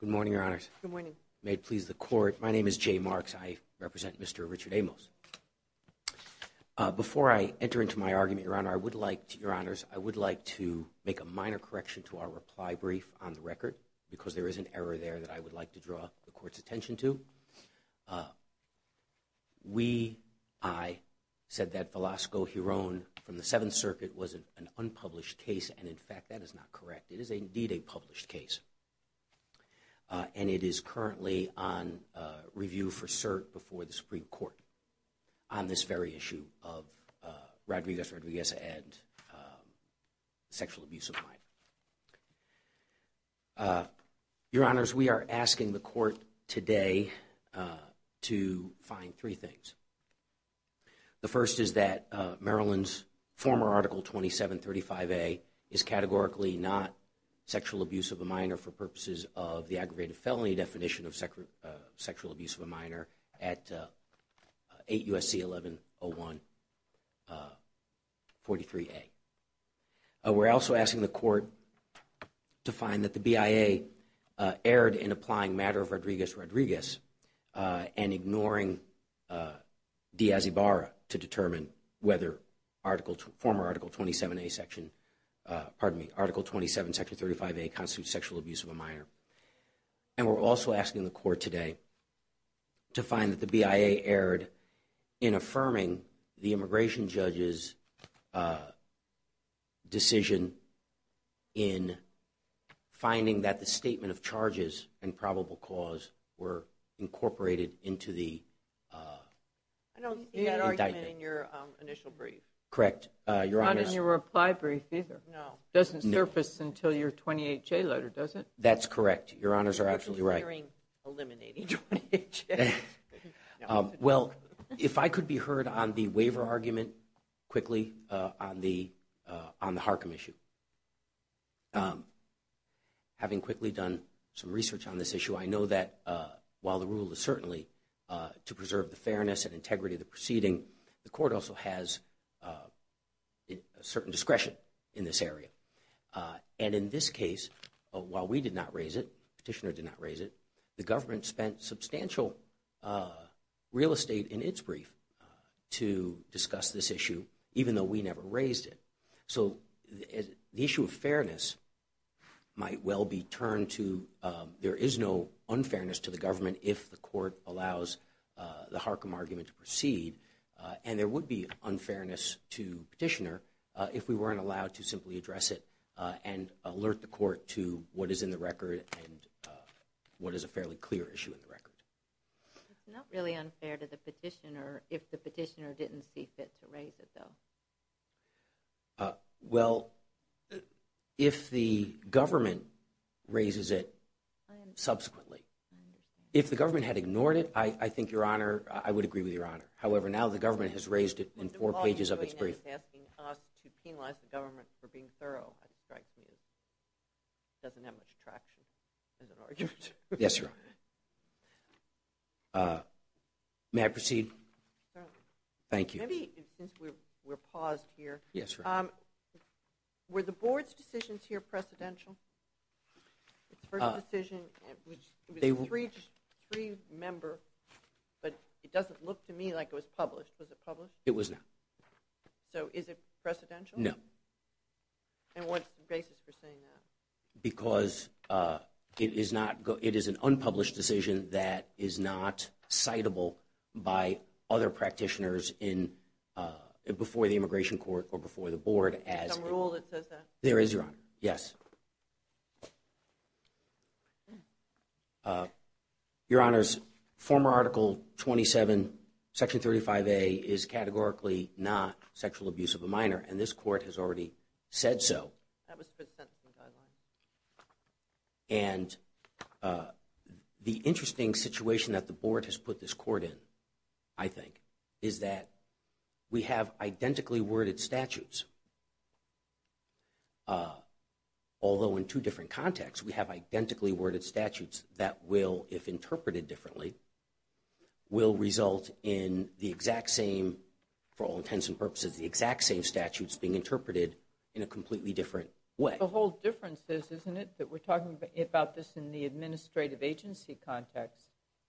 Good morning, Your Honors. Good morning. May it please the Court, my name is Jay Marks, I represent Mr. Richard Amos. Before I enter into my argument, Your Honor, I would like to, Your Honors, I would like to make a minor correction to our reply brief on the record because there is an error there that I would like to draw the Court's attention to. We, I, said that Velasco Hiron from the Seventh Circuit was an unpublished case and in fact that is not correct. It is indeed a published case and it is currently on review for cert before the Supreme Court on this very issue of Rodriguez, Rodriguez and sexual abuse of mind. Your Honors, we are asking the Court today to find three things. The first is that Maryland's former Article 2735A is categorically not sexual abuse of a minor for purposes of the aggravated felony definition of sexual abuse of a minor at 8 U.S.C. 11-01-43A. We are also asking the Court to find that the BIA erred in applying matter of Rodriguez, Rodriguez and ignoring De Asibara to determine whether Article, former Article 27A section, pardon me, Article 27 Section 35A constitutes sexual abuse of a minor. And we are also asking the Court today to find that the BIA erred in affirming the immigration judge's decision in finding that the statement of charges and probable cause were incorporated into the indictment. I don't see that argument in your initial brief. Correct. Your Honors. Not in your reply brief either. No. Doesn't surface until your 28-J letter, does it? That's correct. Your Honors are absolutely right. You're actually hearing eliminating 28-J. Well, if I could be heard on the waiver argument quickly on the Harcum issue. Having quickly done some research on this issue, I know that while the rule is certainly to preserve the fairness and integrity of the proceeding, the Court also has a certain discretion in this area. And in this case, while we did not raise it, the Petitioner did not raise it, the government spent substantial real estate in its brief to discuss this issue, even though we never raised it. So the issue of fairness might well be turned to there is no unfairness to the government if the Court allows the Harcum argument to proceed. And there would be unfairness to Petitioner if we weren't allowed to simply address it and alert the Court to what is in the record and what is a fairly clear issue in the record. It's not really unfair to the Petitioner if the Petitioner didn't see fit to raise it, though. Well, if the government raises it subsequently. If the government had ignored it, I think Your Honor, I would agree with Your Honor. However, now the government has raised it in four pages of its brief. It's asking us to penalize the government for being thorough. It doesn't have much traction as an argument. Yes, Your Honor. May I proceed? Certainly. Thank you. Maybe, since we're paused here. Yes, Your Honor. Were the Board's decisions here precedential? Its first decision, it was a three-member, but it doesn't look to me like it was published. Was it published? It was not. So, is it precedential? No. And what's the basis for saying that? Because it is an unpublished decision that is not citable by other Practitioners before the Immigration Court or before the Board. Is there some rule that says that? There is, Your Honor. Yes. Your Honors, former Article 27, Section 35A is categorically not sexual abuse of a minor, and this Court has already said so. That was present in the Guidelines. And the interesting situation that the Board has put this Court in, I think, is that we have identically worded statutes, although in two different contexts. We have identically worded statutes that will, if interpreted differently, will result in the exact same, for all intents and purposes, the exact same statutes being interpreted in a completely different way. The whole difference is, isn't it, that we're talking about this in the administrative agency context,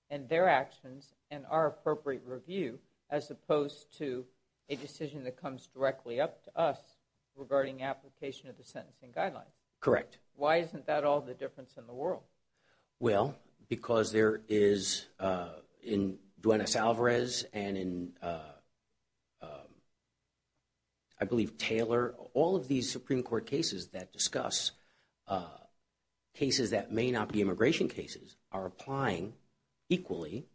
and their actions, and our appropriate review, as opposed to a decision that comes directly up to us regarding application of the Sentencing Guidelines. Correct. Why isn't that all the difference in the world? Well, because there is, in Duenas-Alvarez and in, I believe, Taylor, all of these Supreme Court cases that discuss cases that may not be immigration cases, are applying equally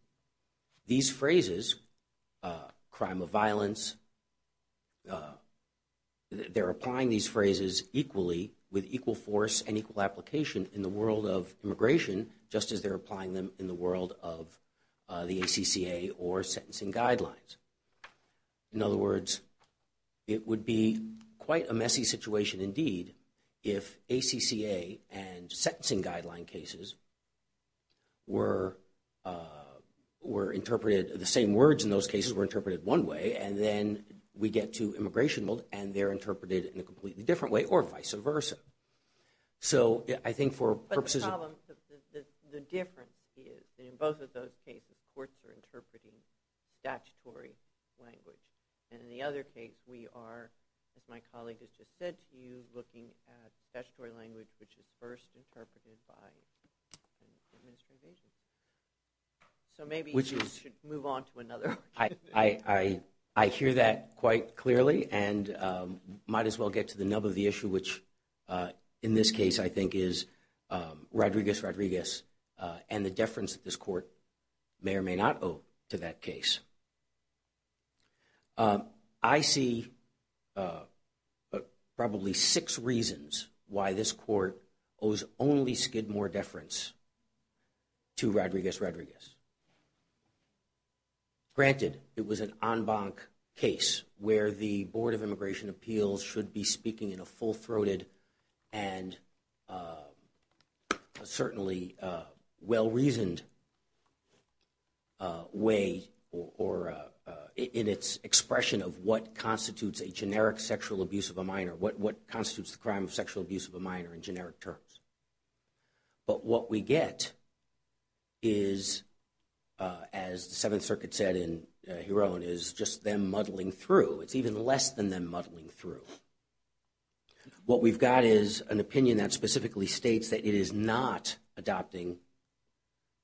these phrases, crime of violence. They're applying these phrases equally, with equal force and equal application, in the world of immigration, just as they're applying them in the world of the ACCA or Sentencing Guidelines. In other words, it would be quite a messy situation, indeed, if ACCA and Sentencing Guideline cases were interpreted, the same words in those cases were interpreted one way, and then we get to immigration, and they're interpreted in a completely different way, or vice versa. So I think for purposes of... But the problem, the difference is, in both of those cases, courts are interpreting statutory language. And in the other case, we are, as my colleague has just said to you, looking at statutory language, which is first interpreted by the administration. So maybe you should move on to another. I hear that quite clearly, and might as well get to the nub of the issue, which in this case, I think, is Rodriguez, Rodriguez, and the deference that this court may or may not owe to that case. I see probably six reasons why this court owes only Skidmore deference to Rodriguez, Rodriguez. Granted, it was an en banc case, where the Board of Immigration Appeals should be speaking in a full-throated and certainly well-reasoned way, or in its expression of what constitutes a generic sexual abuse of a minor, what constitutes the crime of sexual abuse of a minor in generic terms. But what we get is, as the Seventh Circuit said in Heron, is just them muddling through. It's even less than them muddling through. What we've got is an opinion that specifically states that it is not adopting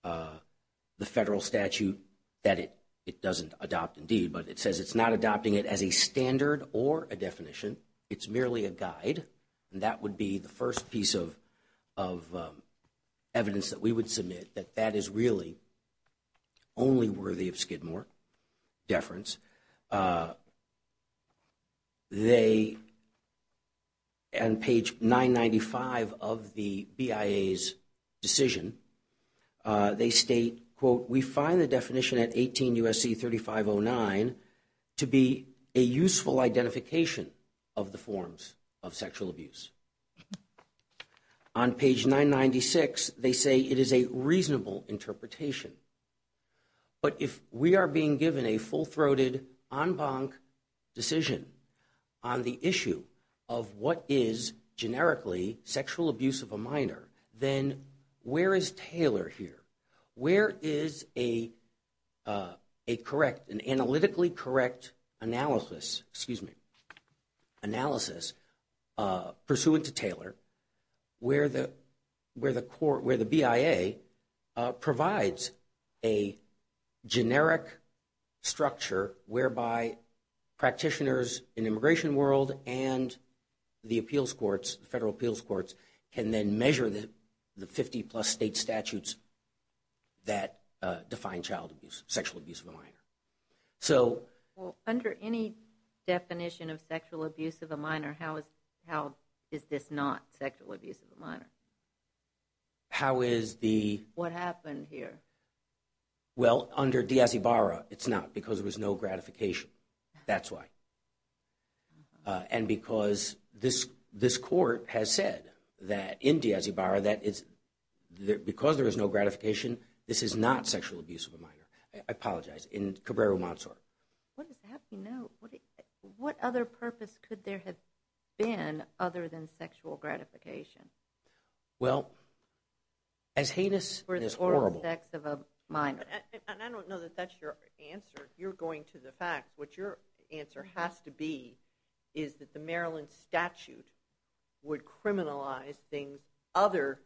the federal statute, that it doesn't adopt indeed, but it says it's not adopting it as a standard or a definition, it's merely a guide, and that would be the first piece of evidence that we would submit, that that is really only worthy of Skidmore deference. They, on page 995 of the BIA's decision, they state, quote, we find the definition at 18 U.S.C. 3509 to be a useful identification of the forms of sexual abuse. On page 996, they say it is a reasonable interpretation. But if we are being given a full-throated, en banc decision on the issue of what is generically sexual abuse of a minor, then where is Taylor here? Where is a correct, an analytically correct analysis, excuse me, analysis pursuant to Taylor, where the BIA provides a generic structure whereby practitioners in immigration world and the appeals courts, federal appeals courts, can then measure the 50-plus state statutes that define child abuse, sexual abuse of a minor. So... Well, under any definition of sexual abuse of a minor, how is this not sexual abuse of a minor? How is the... What happened here? Well, under Diaz-Ibarra, it's not because there was no gratification. That's why. And because this court has said that, in Diaz-Ibarra, that it's... Because there is no gratification, this is not sexual abuse of a minor. I apologize. In Cabrero-Montzor. What is the happy note? What other purpose could there have been other than sexual gratification? Well, as heinous as horrible... For the oral sex of a minor. And I don't know that that's your answer. You're going to the facts. What your answer has to be is that the Maryland statute would criminalize things other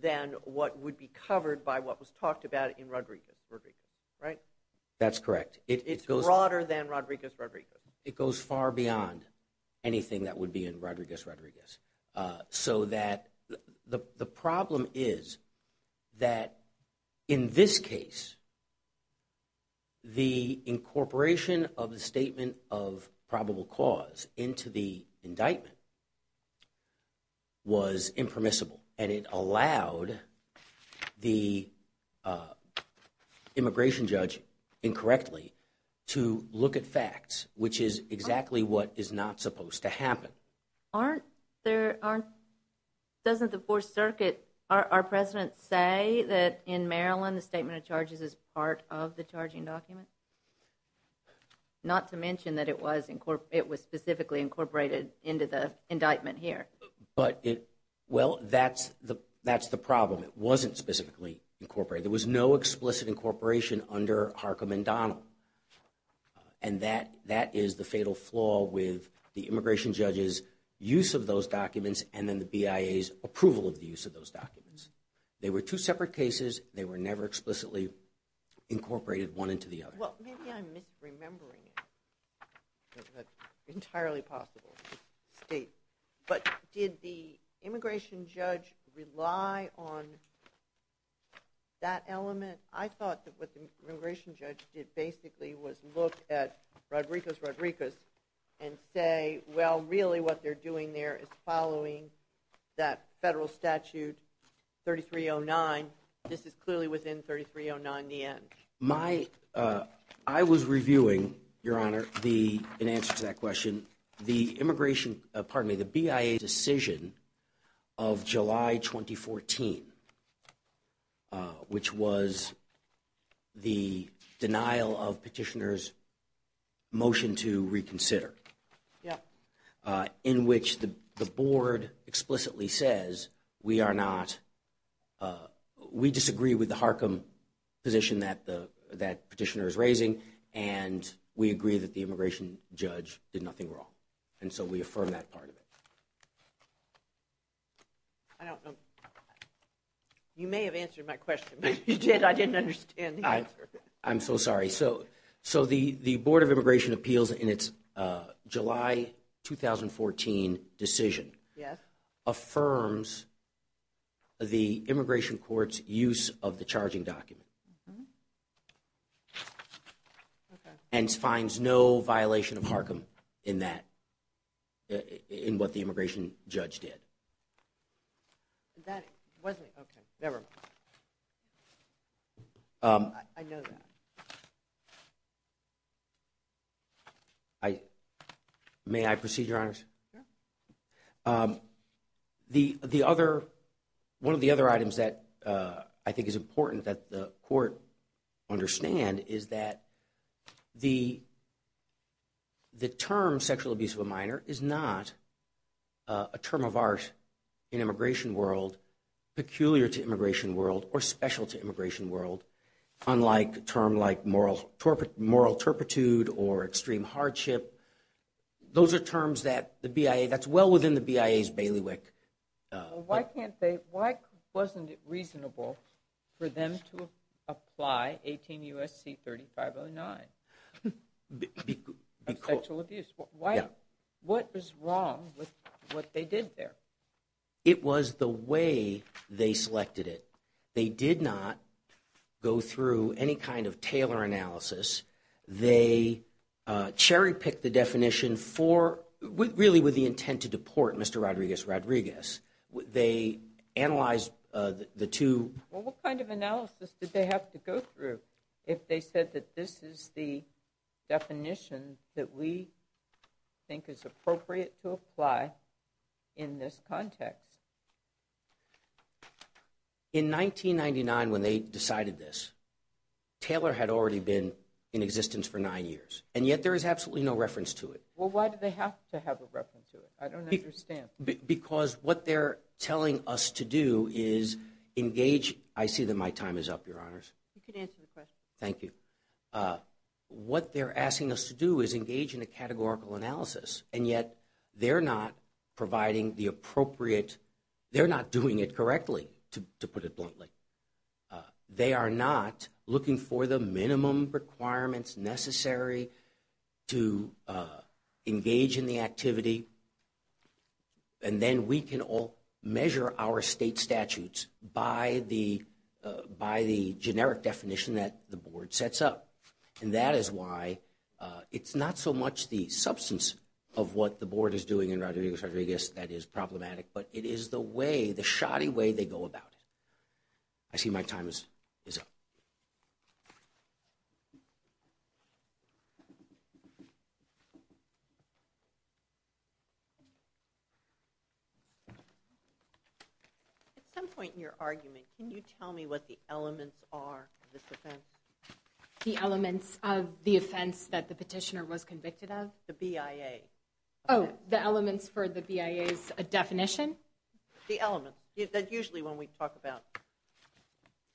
than what would be covered by what was talked about in Rodriguez, Rodriguez, right? It goes... It's broader than Rodriguez, Rodriguez. It goes far beyond anything that would be in Rodriguez, Rodriguez. So that... The problem is that, in this case, the incorporation of the statement of probable cause into the indictment was impermissible. And it allowed the immigration judge, incorrectly, to look at facts, which is exactly what is not supposed to happen. Aren't... There aren't... Doesn't the Fourth Circuit... Our presidents say that, in Maryland, the statement of charges is part of the charging document? Not to mention that it was specifically incorporated into the indictment here. But it... Well, that's the problem. It wasn't specifically incorporated. There was no explicit incorporation under Harcum and Donnell. And that is the fatal flaw with the immigration judge's use of those documents and then the BIA's approval of the use of those documents. They were two separate cases. They were never explicitly incorporated one into the other. Well, maybe I'm misremembering it. That's entirely possible. State. But did the immigration judge rely on that element? I thought that what the immigration judge did, basically, was look at Rodriguez-Rodriguez and say, well, really, what they're doing there is following that federal statute 3309. This is clearly within 3309, the end. My... I was reviewing, Your Honor, the... In answer to that question, the immigration... Pardon me, the BIA decision of July 2014, which was the denial of petitioner's motion to reconsider, in which the board explicitly says, we are not... We disagree with the Harcum position that the petitioner is raising, and we agree that the immigration judge did nothing wrong. And so we affirm that part of it. I don't know... You may have answered my question, but you did... I didn't understand the answer. I'm so sorry. So the Board of Immigration Appeals, in its July 2014 decision... Yes. ...affirms the immigration court's use of the charging document. Okay. And finds no violation of Harcum in that, in what the immigration judge did. That wasn't... Okay. Never mind. I know that. I... May I proceed, Your Honors? Sure. The other... One of the other items that I think is important that the court understand is that the term sexual abuse of a minor is not a term of art in immigration world, peculiar to immigration world, or special to immigration world, unlike a term like moral turpitude or extreme hardship. Those are terms that the BIA... That's well within the BIA's bailiwick... Why can't they... Why wasn't it reasonable for them to apply 18 U.S.C. 3509? Because... Of sexual abuse. Yeah. What was wrong with what they did there? It was the way they selected it. They did not go through any kind of Taylor analysis. They cherry-picked the definition for... Really with the intent to deport Mr. Rodriguez-Rodriguez. They analyzed the two... Well, what kind of analysis did they have to go through if they said that this is the definition that we think is appropriate to apply in this context? In 1999, when they decided this, Taylor had already been in existence for nine years, and yet there is absolutely no reference to it. Well, why do they have to have a reference to it? I don't understand. Because what they're telling us to do is engage... I see that my time is up, Your Honors. You can answer the question. Thank you. What they're asking us to do is engage in a categorical analysis, and yet they're not providing the appropriate... They're not doing it correctly, to put it bluntly. They are not looking for the minimum requirements necessary to engage in the activity. And then we can all measure our state statutes by the generic definition that the Board sets up. And that is why it's not so much the substance of what the Board is doing in Rodriguez-Rodriguez that is problematic, but it is the way, the shoddy way they go about it. I see my time is up. At some point in your argument, can you tell me what the elements are of this offense? The elements of the offense that the petitioner was convicted of? The BIA. Oh, the elements for the BIA's definition? The elements. Usually when we talk about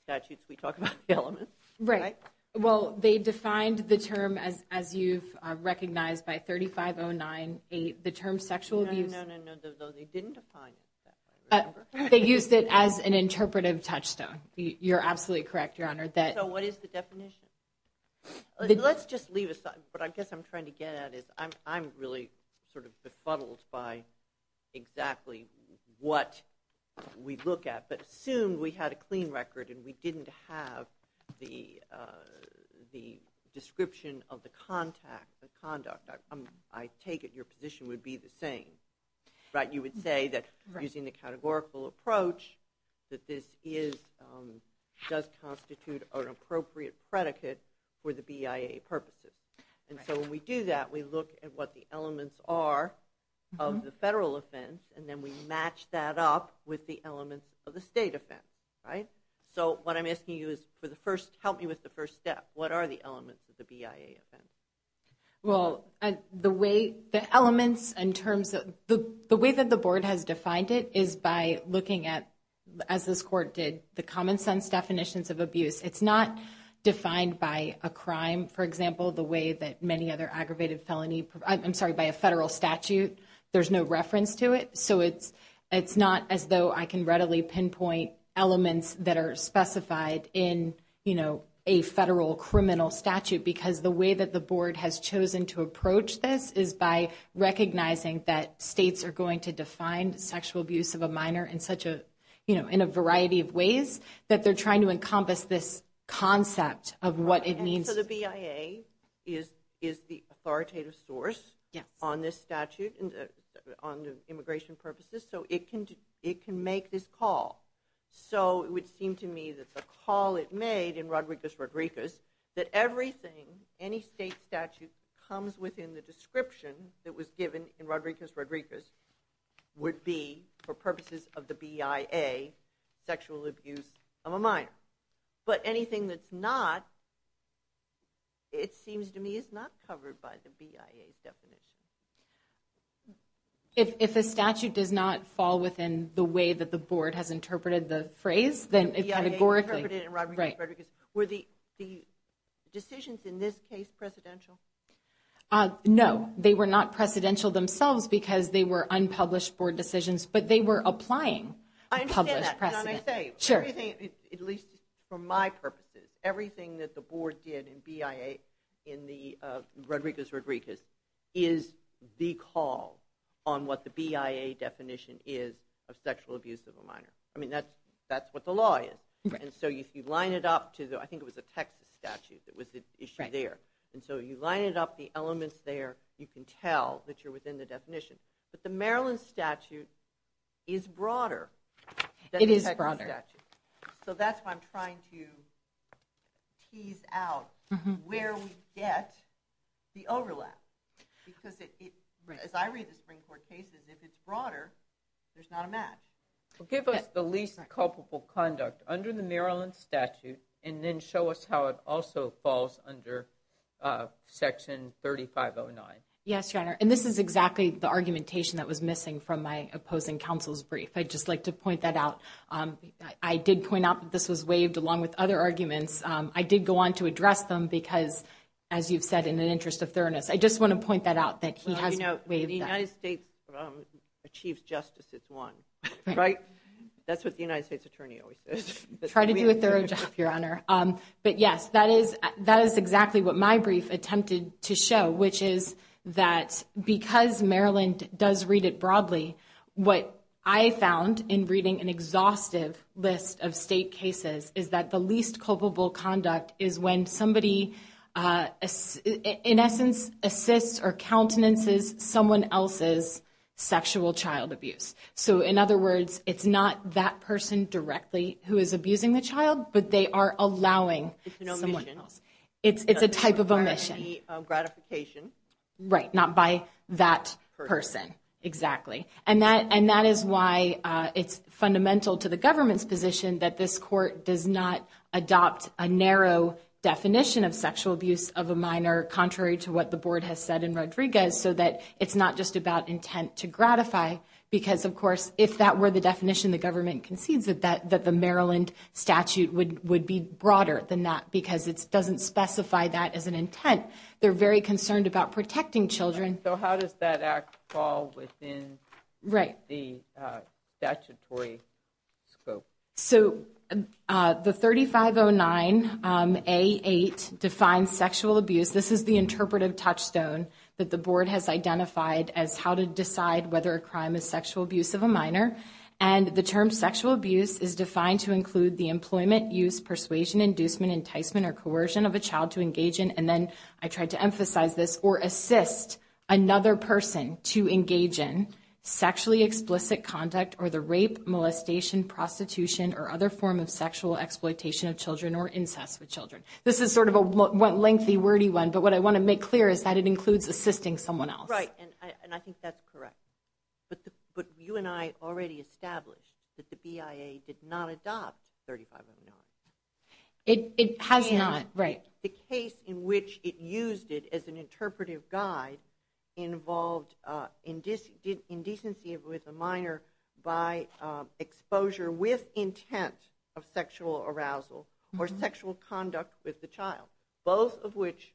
statutes, we talk about the elements. Right. Well, they defined the term, as you've recognized, by 35098. The term sexual abuse... No, no, no, no. They didn't define it that way, remember? They used it as an interpretive touchstone. You're absolutely correct, Your Honor. So what is the definition? Let's just leave it aside. What I guess I'm trying to get at is I'm really sort of befuddled by exactly what we look at. But assume we had a clean record and we didn't have the description of the contact, the conduct. I take it your position would be the same, right? You would say that, using the categorical approach, that this does constitute an appropriate predicate for the BIA purposes. And so when we do that, we look at what the elements are of the federal offense, and then we match that up with the elements of the state offense. Right? So what I'm asking you is, help me with the first step. What are the elements of the BIA offense? Well, the way that the board has defined it is by looking at, as this court did, the common sense definitions of abuse. It's not defined by a crime, for example, the way that many other aggravated felony I'm sorry, by a federal statute. There's no reference to it. So it's not as though I can readily pinpoint elements that are specified in a federal criminal statute because the way that the board has chosen to approach this is by recognizing that states are going to define sexual abuse of a minor in such a, you know, in a variety of ways that they're trying to encompass this concept of what it means. So the BIA is the authoritative source on this statute, on the immigration purposes, so it can make this call. So it would seem to me that the call it made in Rodriguez-Rodriguez, that everything, any state statute that comes within the description that was given in Rodriguez-Rodriguez would be, for purposes of the BIA, sexual abuse of a minor. But anything that's not, it seems to me, is not covered by the BIA's definition. If a statute does not fall within the way that the board has interpreted the phrase, then it categorically... The BIA interpreted it in Rodriguez-Rodriguez. Were the decisions in this case presidential? No. They were not presidential themselves because they were unpublished board decisions, but they were applying published precedents. I understand that. Because I may say, everything, at least for my purposes, everything that the board did in BIA in the Rodriguez-Rodriguez is the call on what the BIA definition is of sexual abuse of a minor. I mean, that's what the law is. Right. And so if you line it up to the, I think it was a Texas statute that was the issue there. Right. And so you line it up, the elements there, you can tell that you're within the definition. But the Maryland statute is broader than the Texas statute. It is broader. So that's why I'm trying to tease out where we get the overlap. Because as I read the Supreme Court cases, if it's broader, there's not a match. Give us the least culpable conduct under the Maryland statute and then show us how it also falls under section 3509. Yes, Your Honor. And this is exactly the argumentation that was missing from my opposing counsel's brief. I'd just like to point that out. I did point out that this was waived along with other arguments. I did go on to address them because, as you've said, in an interest of thoroughness. I just want to point that out that he has waived that. Well, you know, the United States achieves justice. It's one. Right. That's what the United States attorney always says. Try to do a thorough job, Your Honor. But yes, that is exactly what my brief attempted to show, which is that because Maryland does read it broadly, what I found in reading an exhaustive list of state cases is that the least culpable conduct is when somebody, in essence, assists or countenances someone else's sexual child abuse. So, in other words, it's not that person directly who is abusing the child, but they are allowing someone else. It's an omission. It's a type of omission. By any gratification. Right. Not by that person. Exactly. And that is why it's fundamental to the government's position that this court does not adopt a narrow definition of sexual abuse of a minor contrary to what the board has said in Rodriguez so that it's not just about intent to gratify because, of course, if that were the definition the government concedes that the Maryland statute would be broader than that because it doesn't specify that as an intent. They're very concerned about protecting children. So, how does that act fall within the statutory scope? So, the 3509A8 defines sexual abuse. This is the interpretive touchstone that the board has identified as how to decide whether a crime is sexual abuse of a minor. And the term sexual abuse is defined to include the employment, use, persuasion, inducement, enticement, or coercion of a child to engage in, and then I tried to emphasize this, or assist another person to engage in sexually explicit conduct or the rape, molestation, prostitution, or other form of sexual exploitation of children or incest with children. This is sort of a lengthy, wordy one, but what I want to make clear is that it includes assisting someone else. Right. And I think that's correct. But you and I already established that the BIA did not adopt 3509A8. It has not. Right. The case in which it used it as an interpretive guide involved indecency with a minor by exposure with intent of sexual arousal or sexual conduct with the child, both of which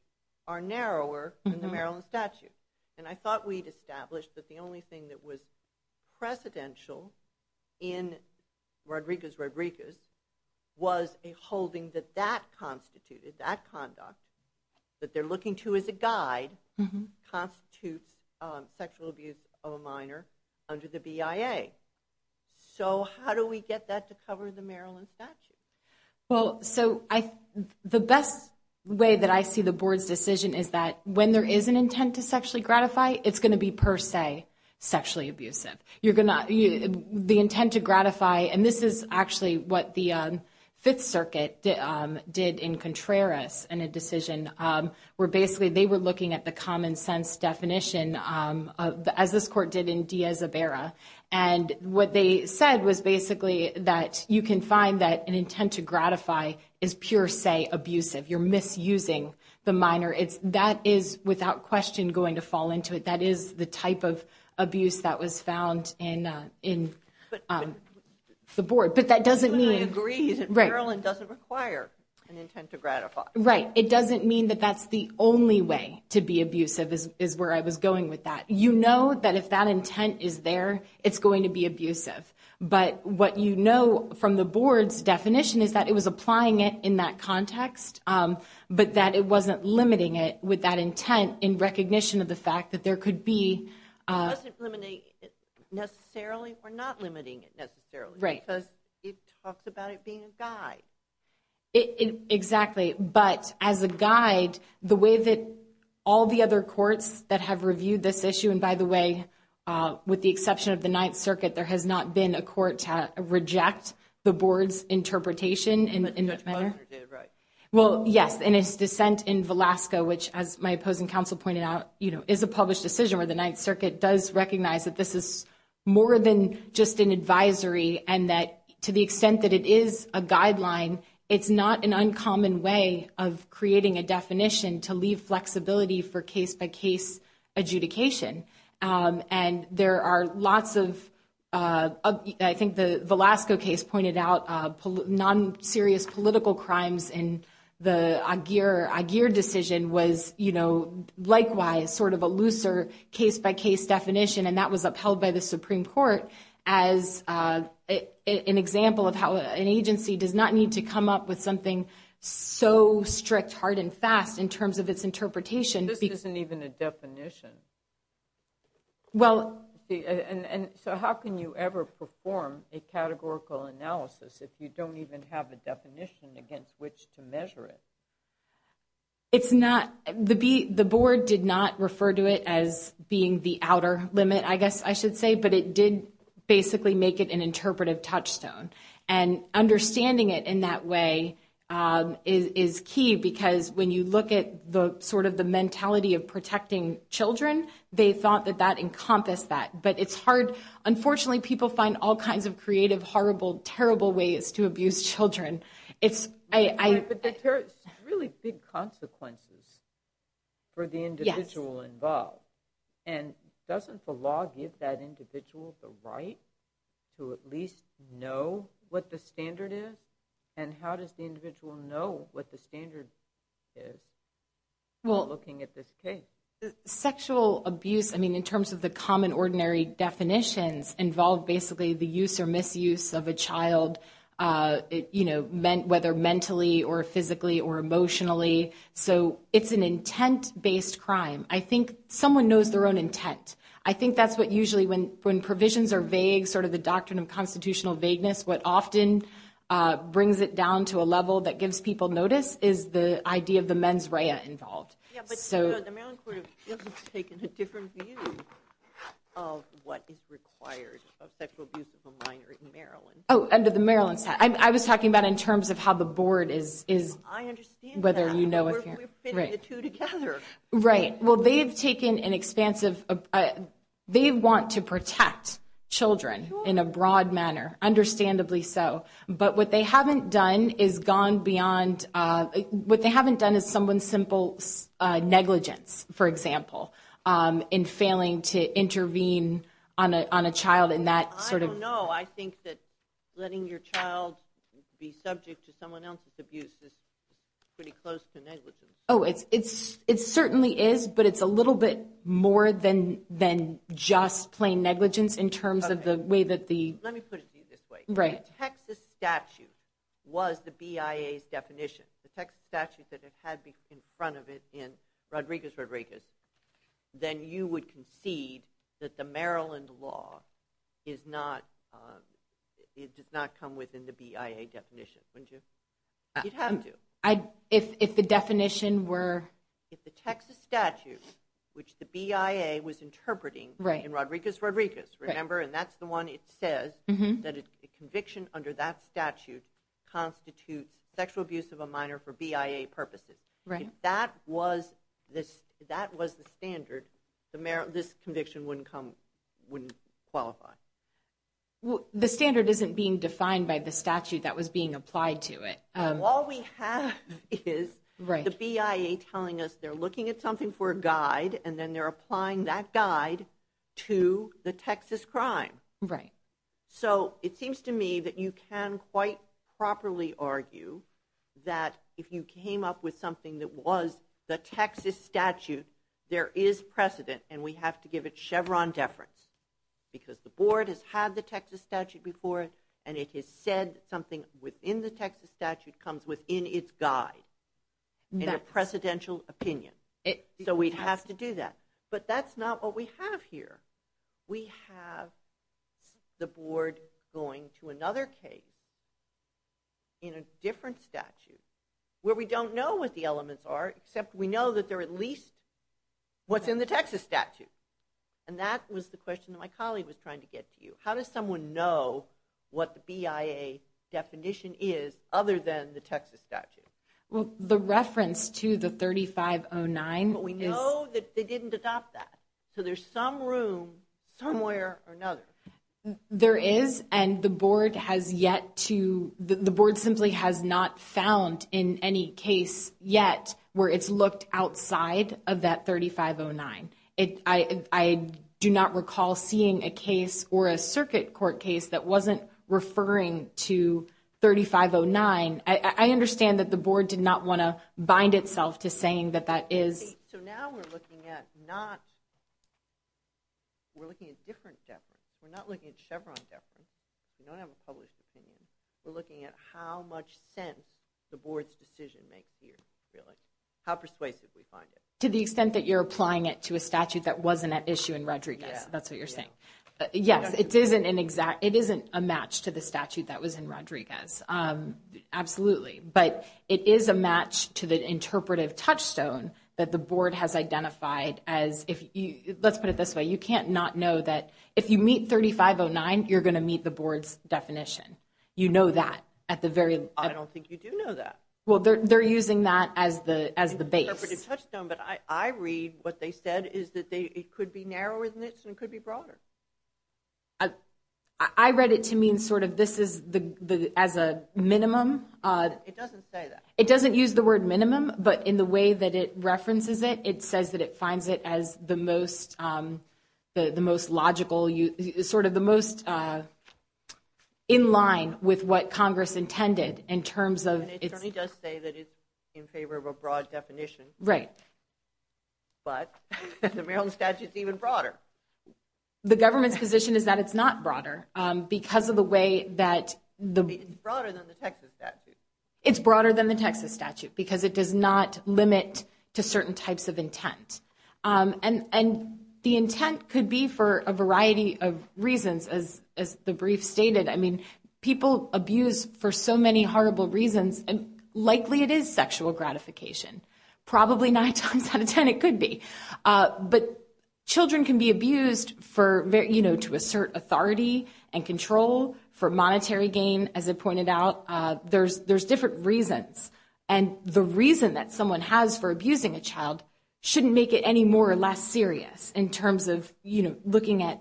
are narrower than the Maryland statute. And I thought we'd established that the only thing that was precedential in Rodriguez-Rodriguez was a holding that that constituted, that conduct, that they're looking to as a guide, constitutes sexual abuse of a minor under the BIA. So how do we get that to cover the Maryland statute? Well, so the best way that I see the board's decision is that when there is an intent to sexually gratify, it's going to be per se sexually abusive. The intent to gratify, and this is actually what the Fifth Circuit did in Contreras in a decision, where basically they were looking at the common sense definition as this court did in Diaz-Ibera. And what they said was basically that you can find that an intent to gratify is per se abusive. You're misusing the minor. That is without question going to fall into it. That is the type of abuse that was found in the board. But that doesn't mean— I agree. Maryland doesn't require an intent to gratify. Right. It doesn't mean that that's the only way to be abusive is where I was going with that. You know that if that intent is there, it's going to be abusive. But what you know from the board's definition is that it was applying it in that context, but that it wasn't limiting it with that intent in recognition of the fact that there could be— It wasn't limiting it necessarily or not limiting it necessarily. Right. Because it talks about it being a guide. Exactly. But as a guide, the way that all the other courts that have reviewed this issue—and by the way, with the exception of the Ninth Circuit, there has not been a court to reject the board's interpretation in that matter. Well, yes. And its dissent in Velasco, which as my opposing counsel pointed out, is a published decision where the Ninth Circuit does recognize that this is more than just an advisory and that to the extent that it is a guideline, it's not an uncommon way of creating a definition to leave flexibility for case-by-case adjudication. And there are lots of—I think the Velasco case pointed out non-serious political crimes and the Aguirre decision was likewise sort of a looser case-by-case definition and that was upheld by the Supreme Court as an example of how an agency does not need to come up with something so strict, hard, and fast in terms of its interpretation. But this isn't even a definition. Well— And so how can you ever perform a categorical analysis if you don't even have a definition against which to measure it? It's not—the board did not refer to it as being the outer limit, I guess I should say, but it did basically make it an interpretive touchstone. And understanding it in that way is key because when you look at the sort of the mentality of protecting children, they thought that that encompassed that. But it's hard—unfortunately, people find all kinds of creative, horrible, terrible ways to abuse children. It's—I— But there's really big consequences for the individual involved. And doesn't the law give that individual the right to at least know what the standard is? And how does the individual know what the standard is when looking at this case? Well, sexual abuse, I mean, in terms of the common, ordinary definitions, involve basically the use or misuse of a child, you know, whether mentally or physically or emotionally. So it's an intent-based crime. I think someone knows their own intent. I think that's what usually, when provisions are vague, sort of the doctrine of constitutional vagueness, what often brings it down to a level that gives people notice is the idea of the mens rea involved. Yeah, but the Maryland court has taken a different view of what is required of sexual abuse of a minor in Maryland. Oh, under the Maryland statute. I was talking about in terms of how the board is— I understand that, but we're fitting the two together. Right. Well, they've taken an expansive—they want to protect children in a broad manner, understandably so. But what they haven't done is gone beyond—what they haven't done is someone's simple negligence, for example, in failing to intervene on a child in that sort of— I don't know. I think that letting your child be subject to someone else's abuse is pretty close to negligence. Oh, it certainly is, but it's a little bit more than just plain negligence in terms of the way that the— Let me put it to you this way. Right. If the Texas statute was the BIA's definition, the Texas statute that it had in front of it in Rodriguez-Rodriguez, then you would concede that the Maryland law is not—it does not come within the BIA definition, wouldn't you? You'd have to. If the definition were— If the Texas statute, which the BIA was interpreting in Rodriguez-Rodriguez, remember, and that's the one it says that a conviction under that statute constitutes sexual abuse of a minor for BIA purposes. If that was the standard, this conviction wouldn't come—wouldn't qualify. The standard isn't being defined by the statute that was being applied to it. All we have is the BIA telling us they're looking at something for a guide, and then they're applying that guide to the Texas crime. Right. So it seems to me that you can quite properly argue that if you came up with something that was the Texas statute, there is precedent, and we have to give it Chevron deference because the board has had the Texas statute before, and it has said something within the Texas statute comes within its guide in a precedential opinion. So we'd have to do that. But that's not what we have here. We have the board going to another case in a different statute where we don't know what the elements are, except we know that they're at least what's in the Texas statute. And that was the question that my colleague was trying to get to you. How does someone know what the BIA definition is other than the Texas statute? Well, the reference to the 3509 is— But we know that they didn't adopt that, so there's some room somewhere or another. There is, and the board has yet to—the board simply has not found in any case yet where it's looked outside of that 3509. I do not recall seeing a case or a circuit court case that wasn't referring to 3509. I understand that the board did not want to bind itself to saying that that is— So now we're looking at not—we're looking at different deference. We're not looking at Chevron deference. We don't have a published opinion. We're looking at how much sense the board's decision makes here, really. How persuasive we find it. To the extent that you're applying it to a statute that wasn't at issue in Rodriguez, that's what you're saying. Yes, it isn't an exact—it isn't a match to the statute that was in Rodriguez, absolutely. But it is a match to the interpretive touchstone that the board has identified as—let's put it this way. You can't not know that if you meet 3509, you're going to meet the board's definition. You know that at the very— I don't think you do know that. Well, they're using that as the base. Interpretive touchstone, but I read what they said is that it could be narrower than this and it could be broader. I read it to mean sort of this is the—as a minimum. It doesn't say that. It doesn't use the word minimum, but in the way that it references it, it says that it finds it as the most logical, sort of the most in line with what Congress intended in terms of its— Right. But the Maryland statute's even broader. The government's position is that it's not broader because of the way that the— It's broader than the Texas statute. It's broader than the Texas statute because it does not limit to certain types of intent. And the intent could be for a variety of reasons, as the brief stated. I mean, people abuse for so many horrible reasons, and likely it is sexual gratification. Probably nine times out of ten it could be. But children can be abused to assert authority and control for monetary gain, as it pointed out. There's different reasons, and the reason that someone has for abusing a child shouldn't make it any more or less serious in terms of looking at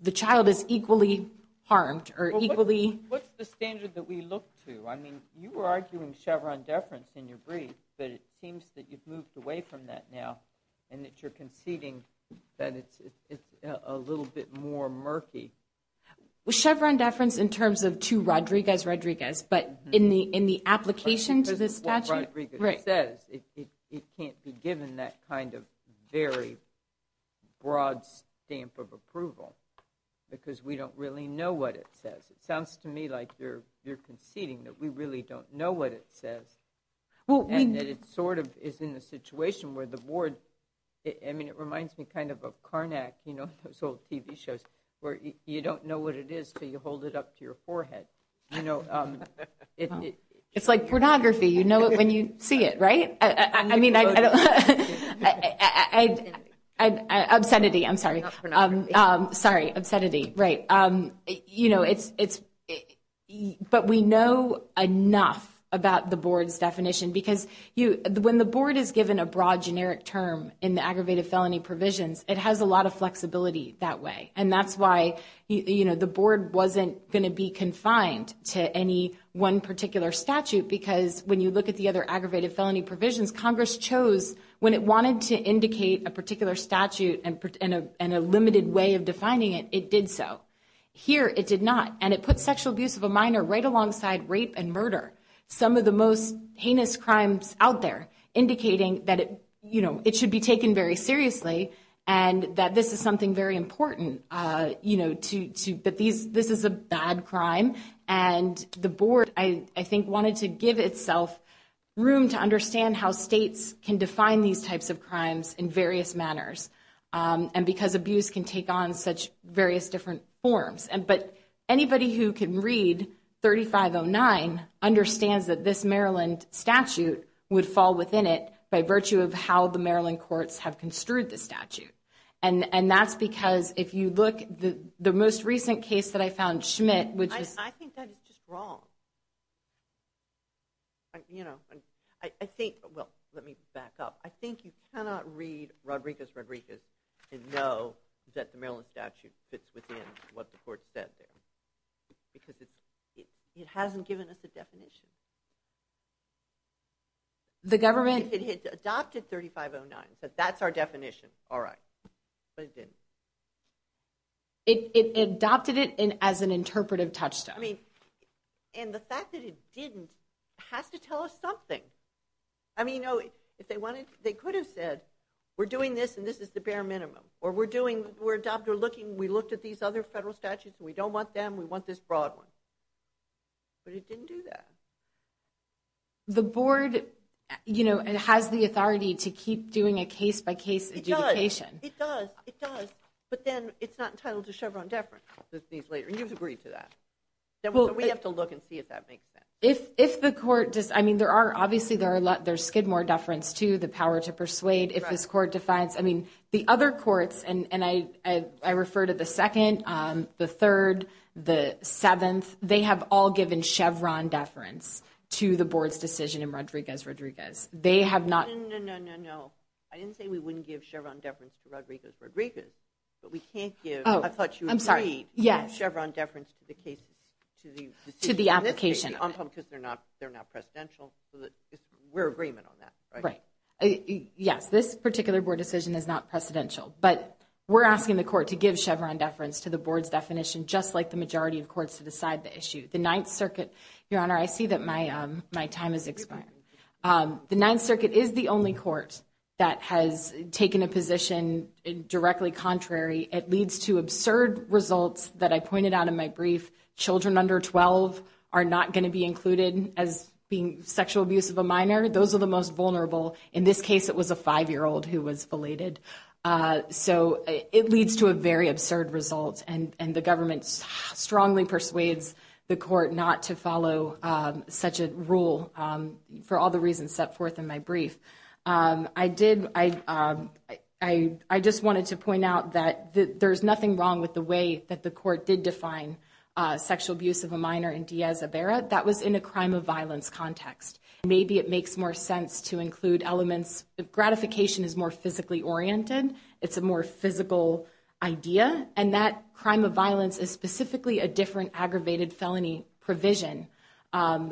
the child as equally harmed or equally— What's the standard that we look to? I mean, you were arguing Chevron deference in your brief, but it seems that you've moved away from that now and that you're conceding that it's a little bit more murky. Chevron deference in terms of to Rodriguez, Rodriguez, but in the application to the statute— Because of what Rodriguez says, it can't be given that kind of very broad stamp of approval because we don't really know what it says. It sounds to me like you're conceding that we really don't know what it says, and that it sort of is in a situation where the board— I mean, it reminds me kind of of Carnac, you know, those old TV shows, where you don't know what it is until you hold it up to your forehead. It's like pornography. You know it when you see it, right? I mean, I don't—obscenity, I'm sorry. Sorry, obscenity, right. You know, it's—but we know enough about the board's definition because when the board is given a broad generic term in the aggravated felony provisions, it has a lot of flexibility that way, and that's why the board wasn't going to be confined to any one particular statute because when you look at the other aggravated felony provisions, Congress chose when it wanted to indicate a particular statute and a limited way of defining it, it did so. Here it did not, and it put sexual abuse of a minor right alongside rape and murder, some of the most heinous crimes out there, indicating that it should be taken very seriously and that this is something very important, that this is a bad crime. And the board, I think, wanted to give itself room to understand how states can define these types of crimes in various manners and because abuse can take on such various different forms. But anybody who can read 3509 understands that this Maryland statute would fall within it by virtue of how the Maryland courts have construed the statute. And that's because if you look, the most recent case that I found, Schmidt, which is... I think that is just wrong. You know, I think, well, let me back up. I think you cannot read Rodriguez, Rodriguez and know that the Maryland statute fits within what the court said there because it hasn't given us a definition. The government... If it had adopted 3509 and said that's our definition, all right, but it didn't. It adopted it as an interpretive touchstone. I mean, and the fact that it didn't has to tell us something. I mean, you know, they could have said we're doing this and this is the bare minimum or we're looking, we looked at these other federal statutes, we don't want them, we want this broad one. But it didn't do that. The board, you know, has the authority to keep doing a case-by-case adjudication. It does. It does. But then it's not entitled to Chevron deference. And you've agreed to that. We have to look and see if that makes sense. If the court does... I mean, obviously there's Skidmore deference too, the power to persuade. If this court defines... I mean, the other courts, and I refer to the second, the third, the seventh, they have all given Chevron deference to the board's decision in Rodriguez, Rodriguez. They have not... No, no, no, no, no. I didn't say we wouldn't give Chevron deference to Rodriguez, Rodriguez, but we can't give... Oh, I'm sorry. I thought you agreed to give Chevron deference to the cases, to the decision. To the application. Because they're not presidential. We're in agreement on that, right? Right. Yes, this particular board decision is not precedential. But we're asking the court to give Chevron deference to the board's definition just like the majority of courts to decide the issue. The Ninth Circuit, Your Honor, I see that my time is expiring. The Ninth Circuit is the only court that has taken a position directly contrary. It leads to absurd results that I pointed out in my brief. Children under 12 are not going to be included as being sexual abuse of a minor. Those are the most vulnerable. In this case, it was a 5-year-old who was belated. So it leads to a very absurd result, and the government strongly persuades the court not to follow such a rule for all the reasons set forth in my brief. I just wanted to point out that there's nothing wrong with the way that the court did define sexual abuse of a minor in Diaz-Iberra. That was in a crime of violence context. Maybe it makes more sense to include elements. Gratification is more physically oriented. It's a more physical idea. And that crime of violence is specifically a different aggravated felony provision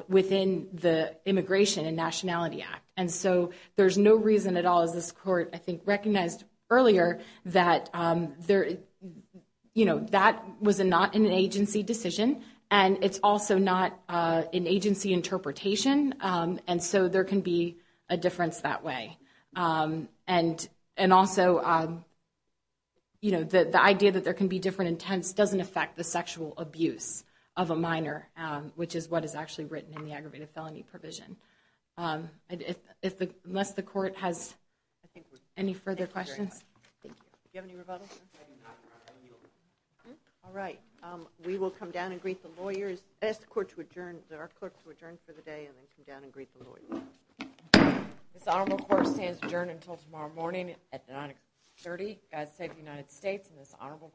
within the Immigration and Nationality Act. And so there's no reason at all, as this court, I think, recognized earlier, that that was not an agency decision, and it's also not an agency interpretation. And so there can be a difference that way. And also, you know, the idea that there can be different intents doesn't affect the sexual abuse of a minor, which is what is actually written in the aggravated felony provision. Unless the court has any further questions. Thank you. Do you have any rebuttals? All right. We will come down and greet the lawyers. Ask the court to adjourn, our clerk to adjourn for the day, and then come down and greet the lawyers. This honorable court stands adjourned until tomorrow morning at 930. God save the United States and this honorable court.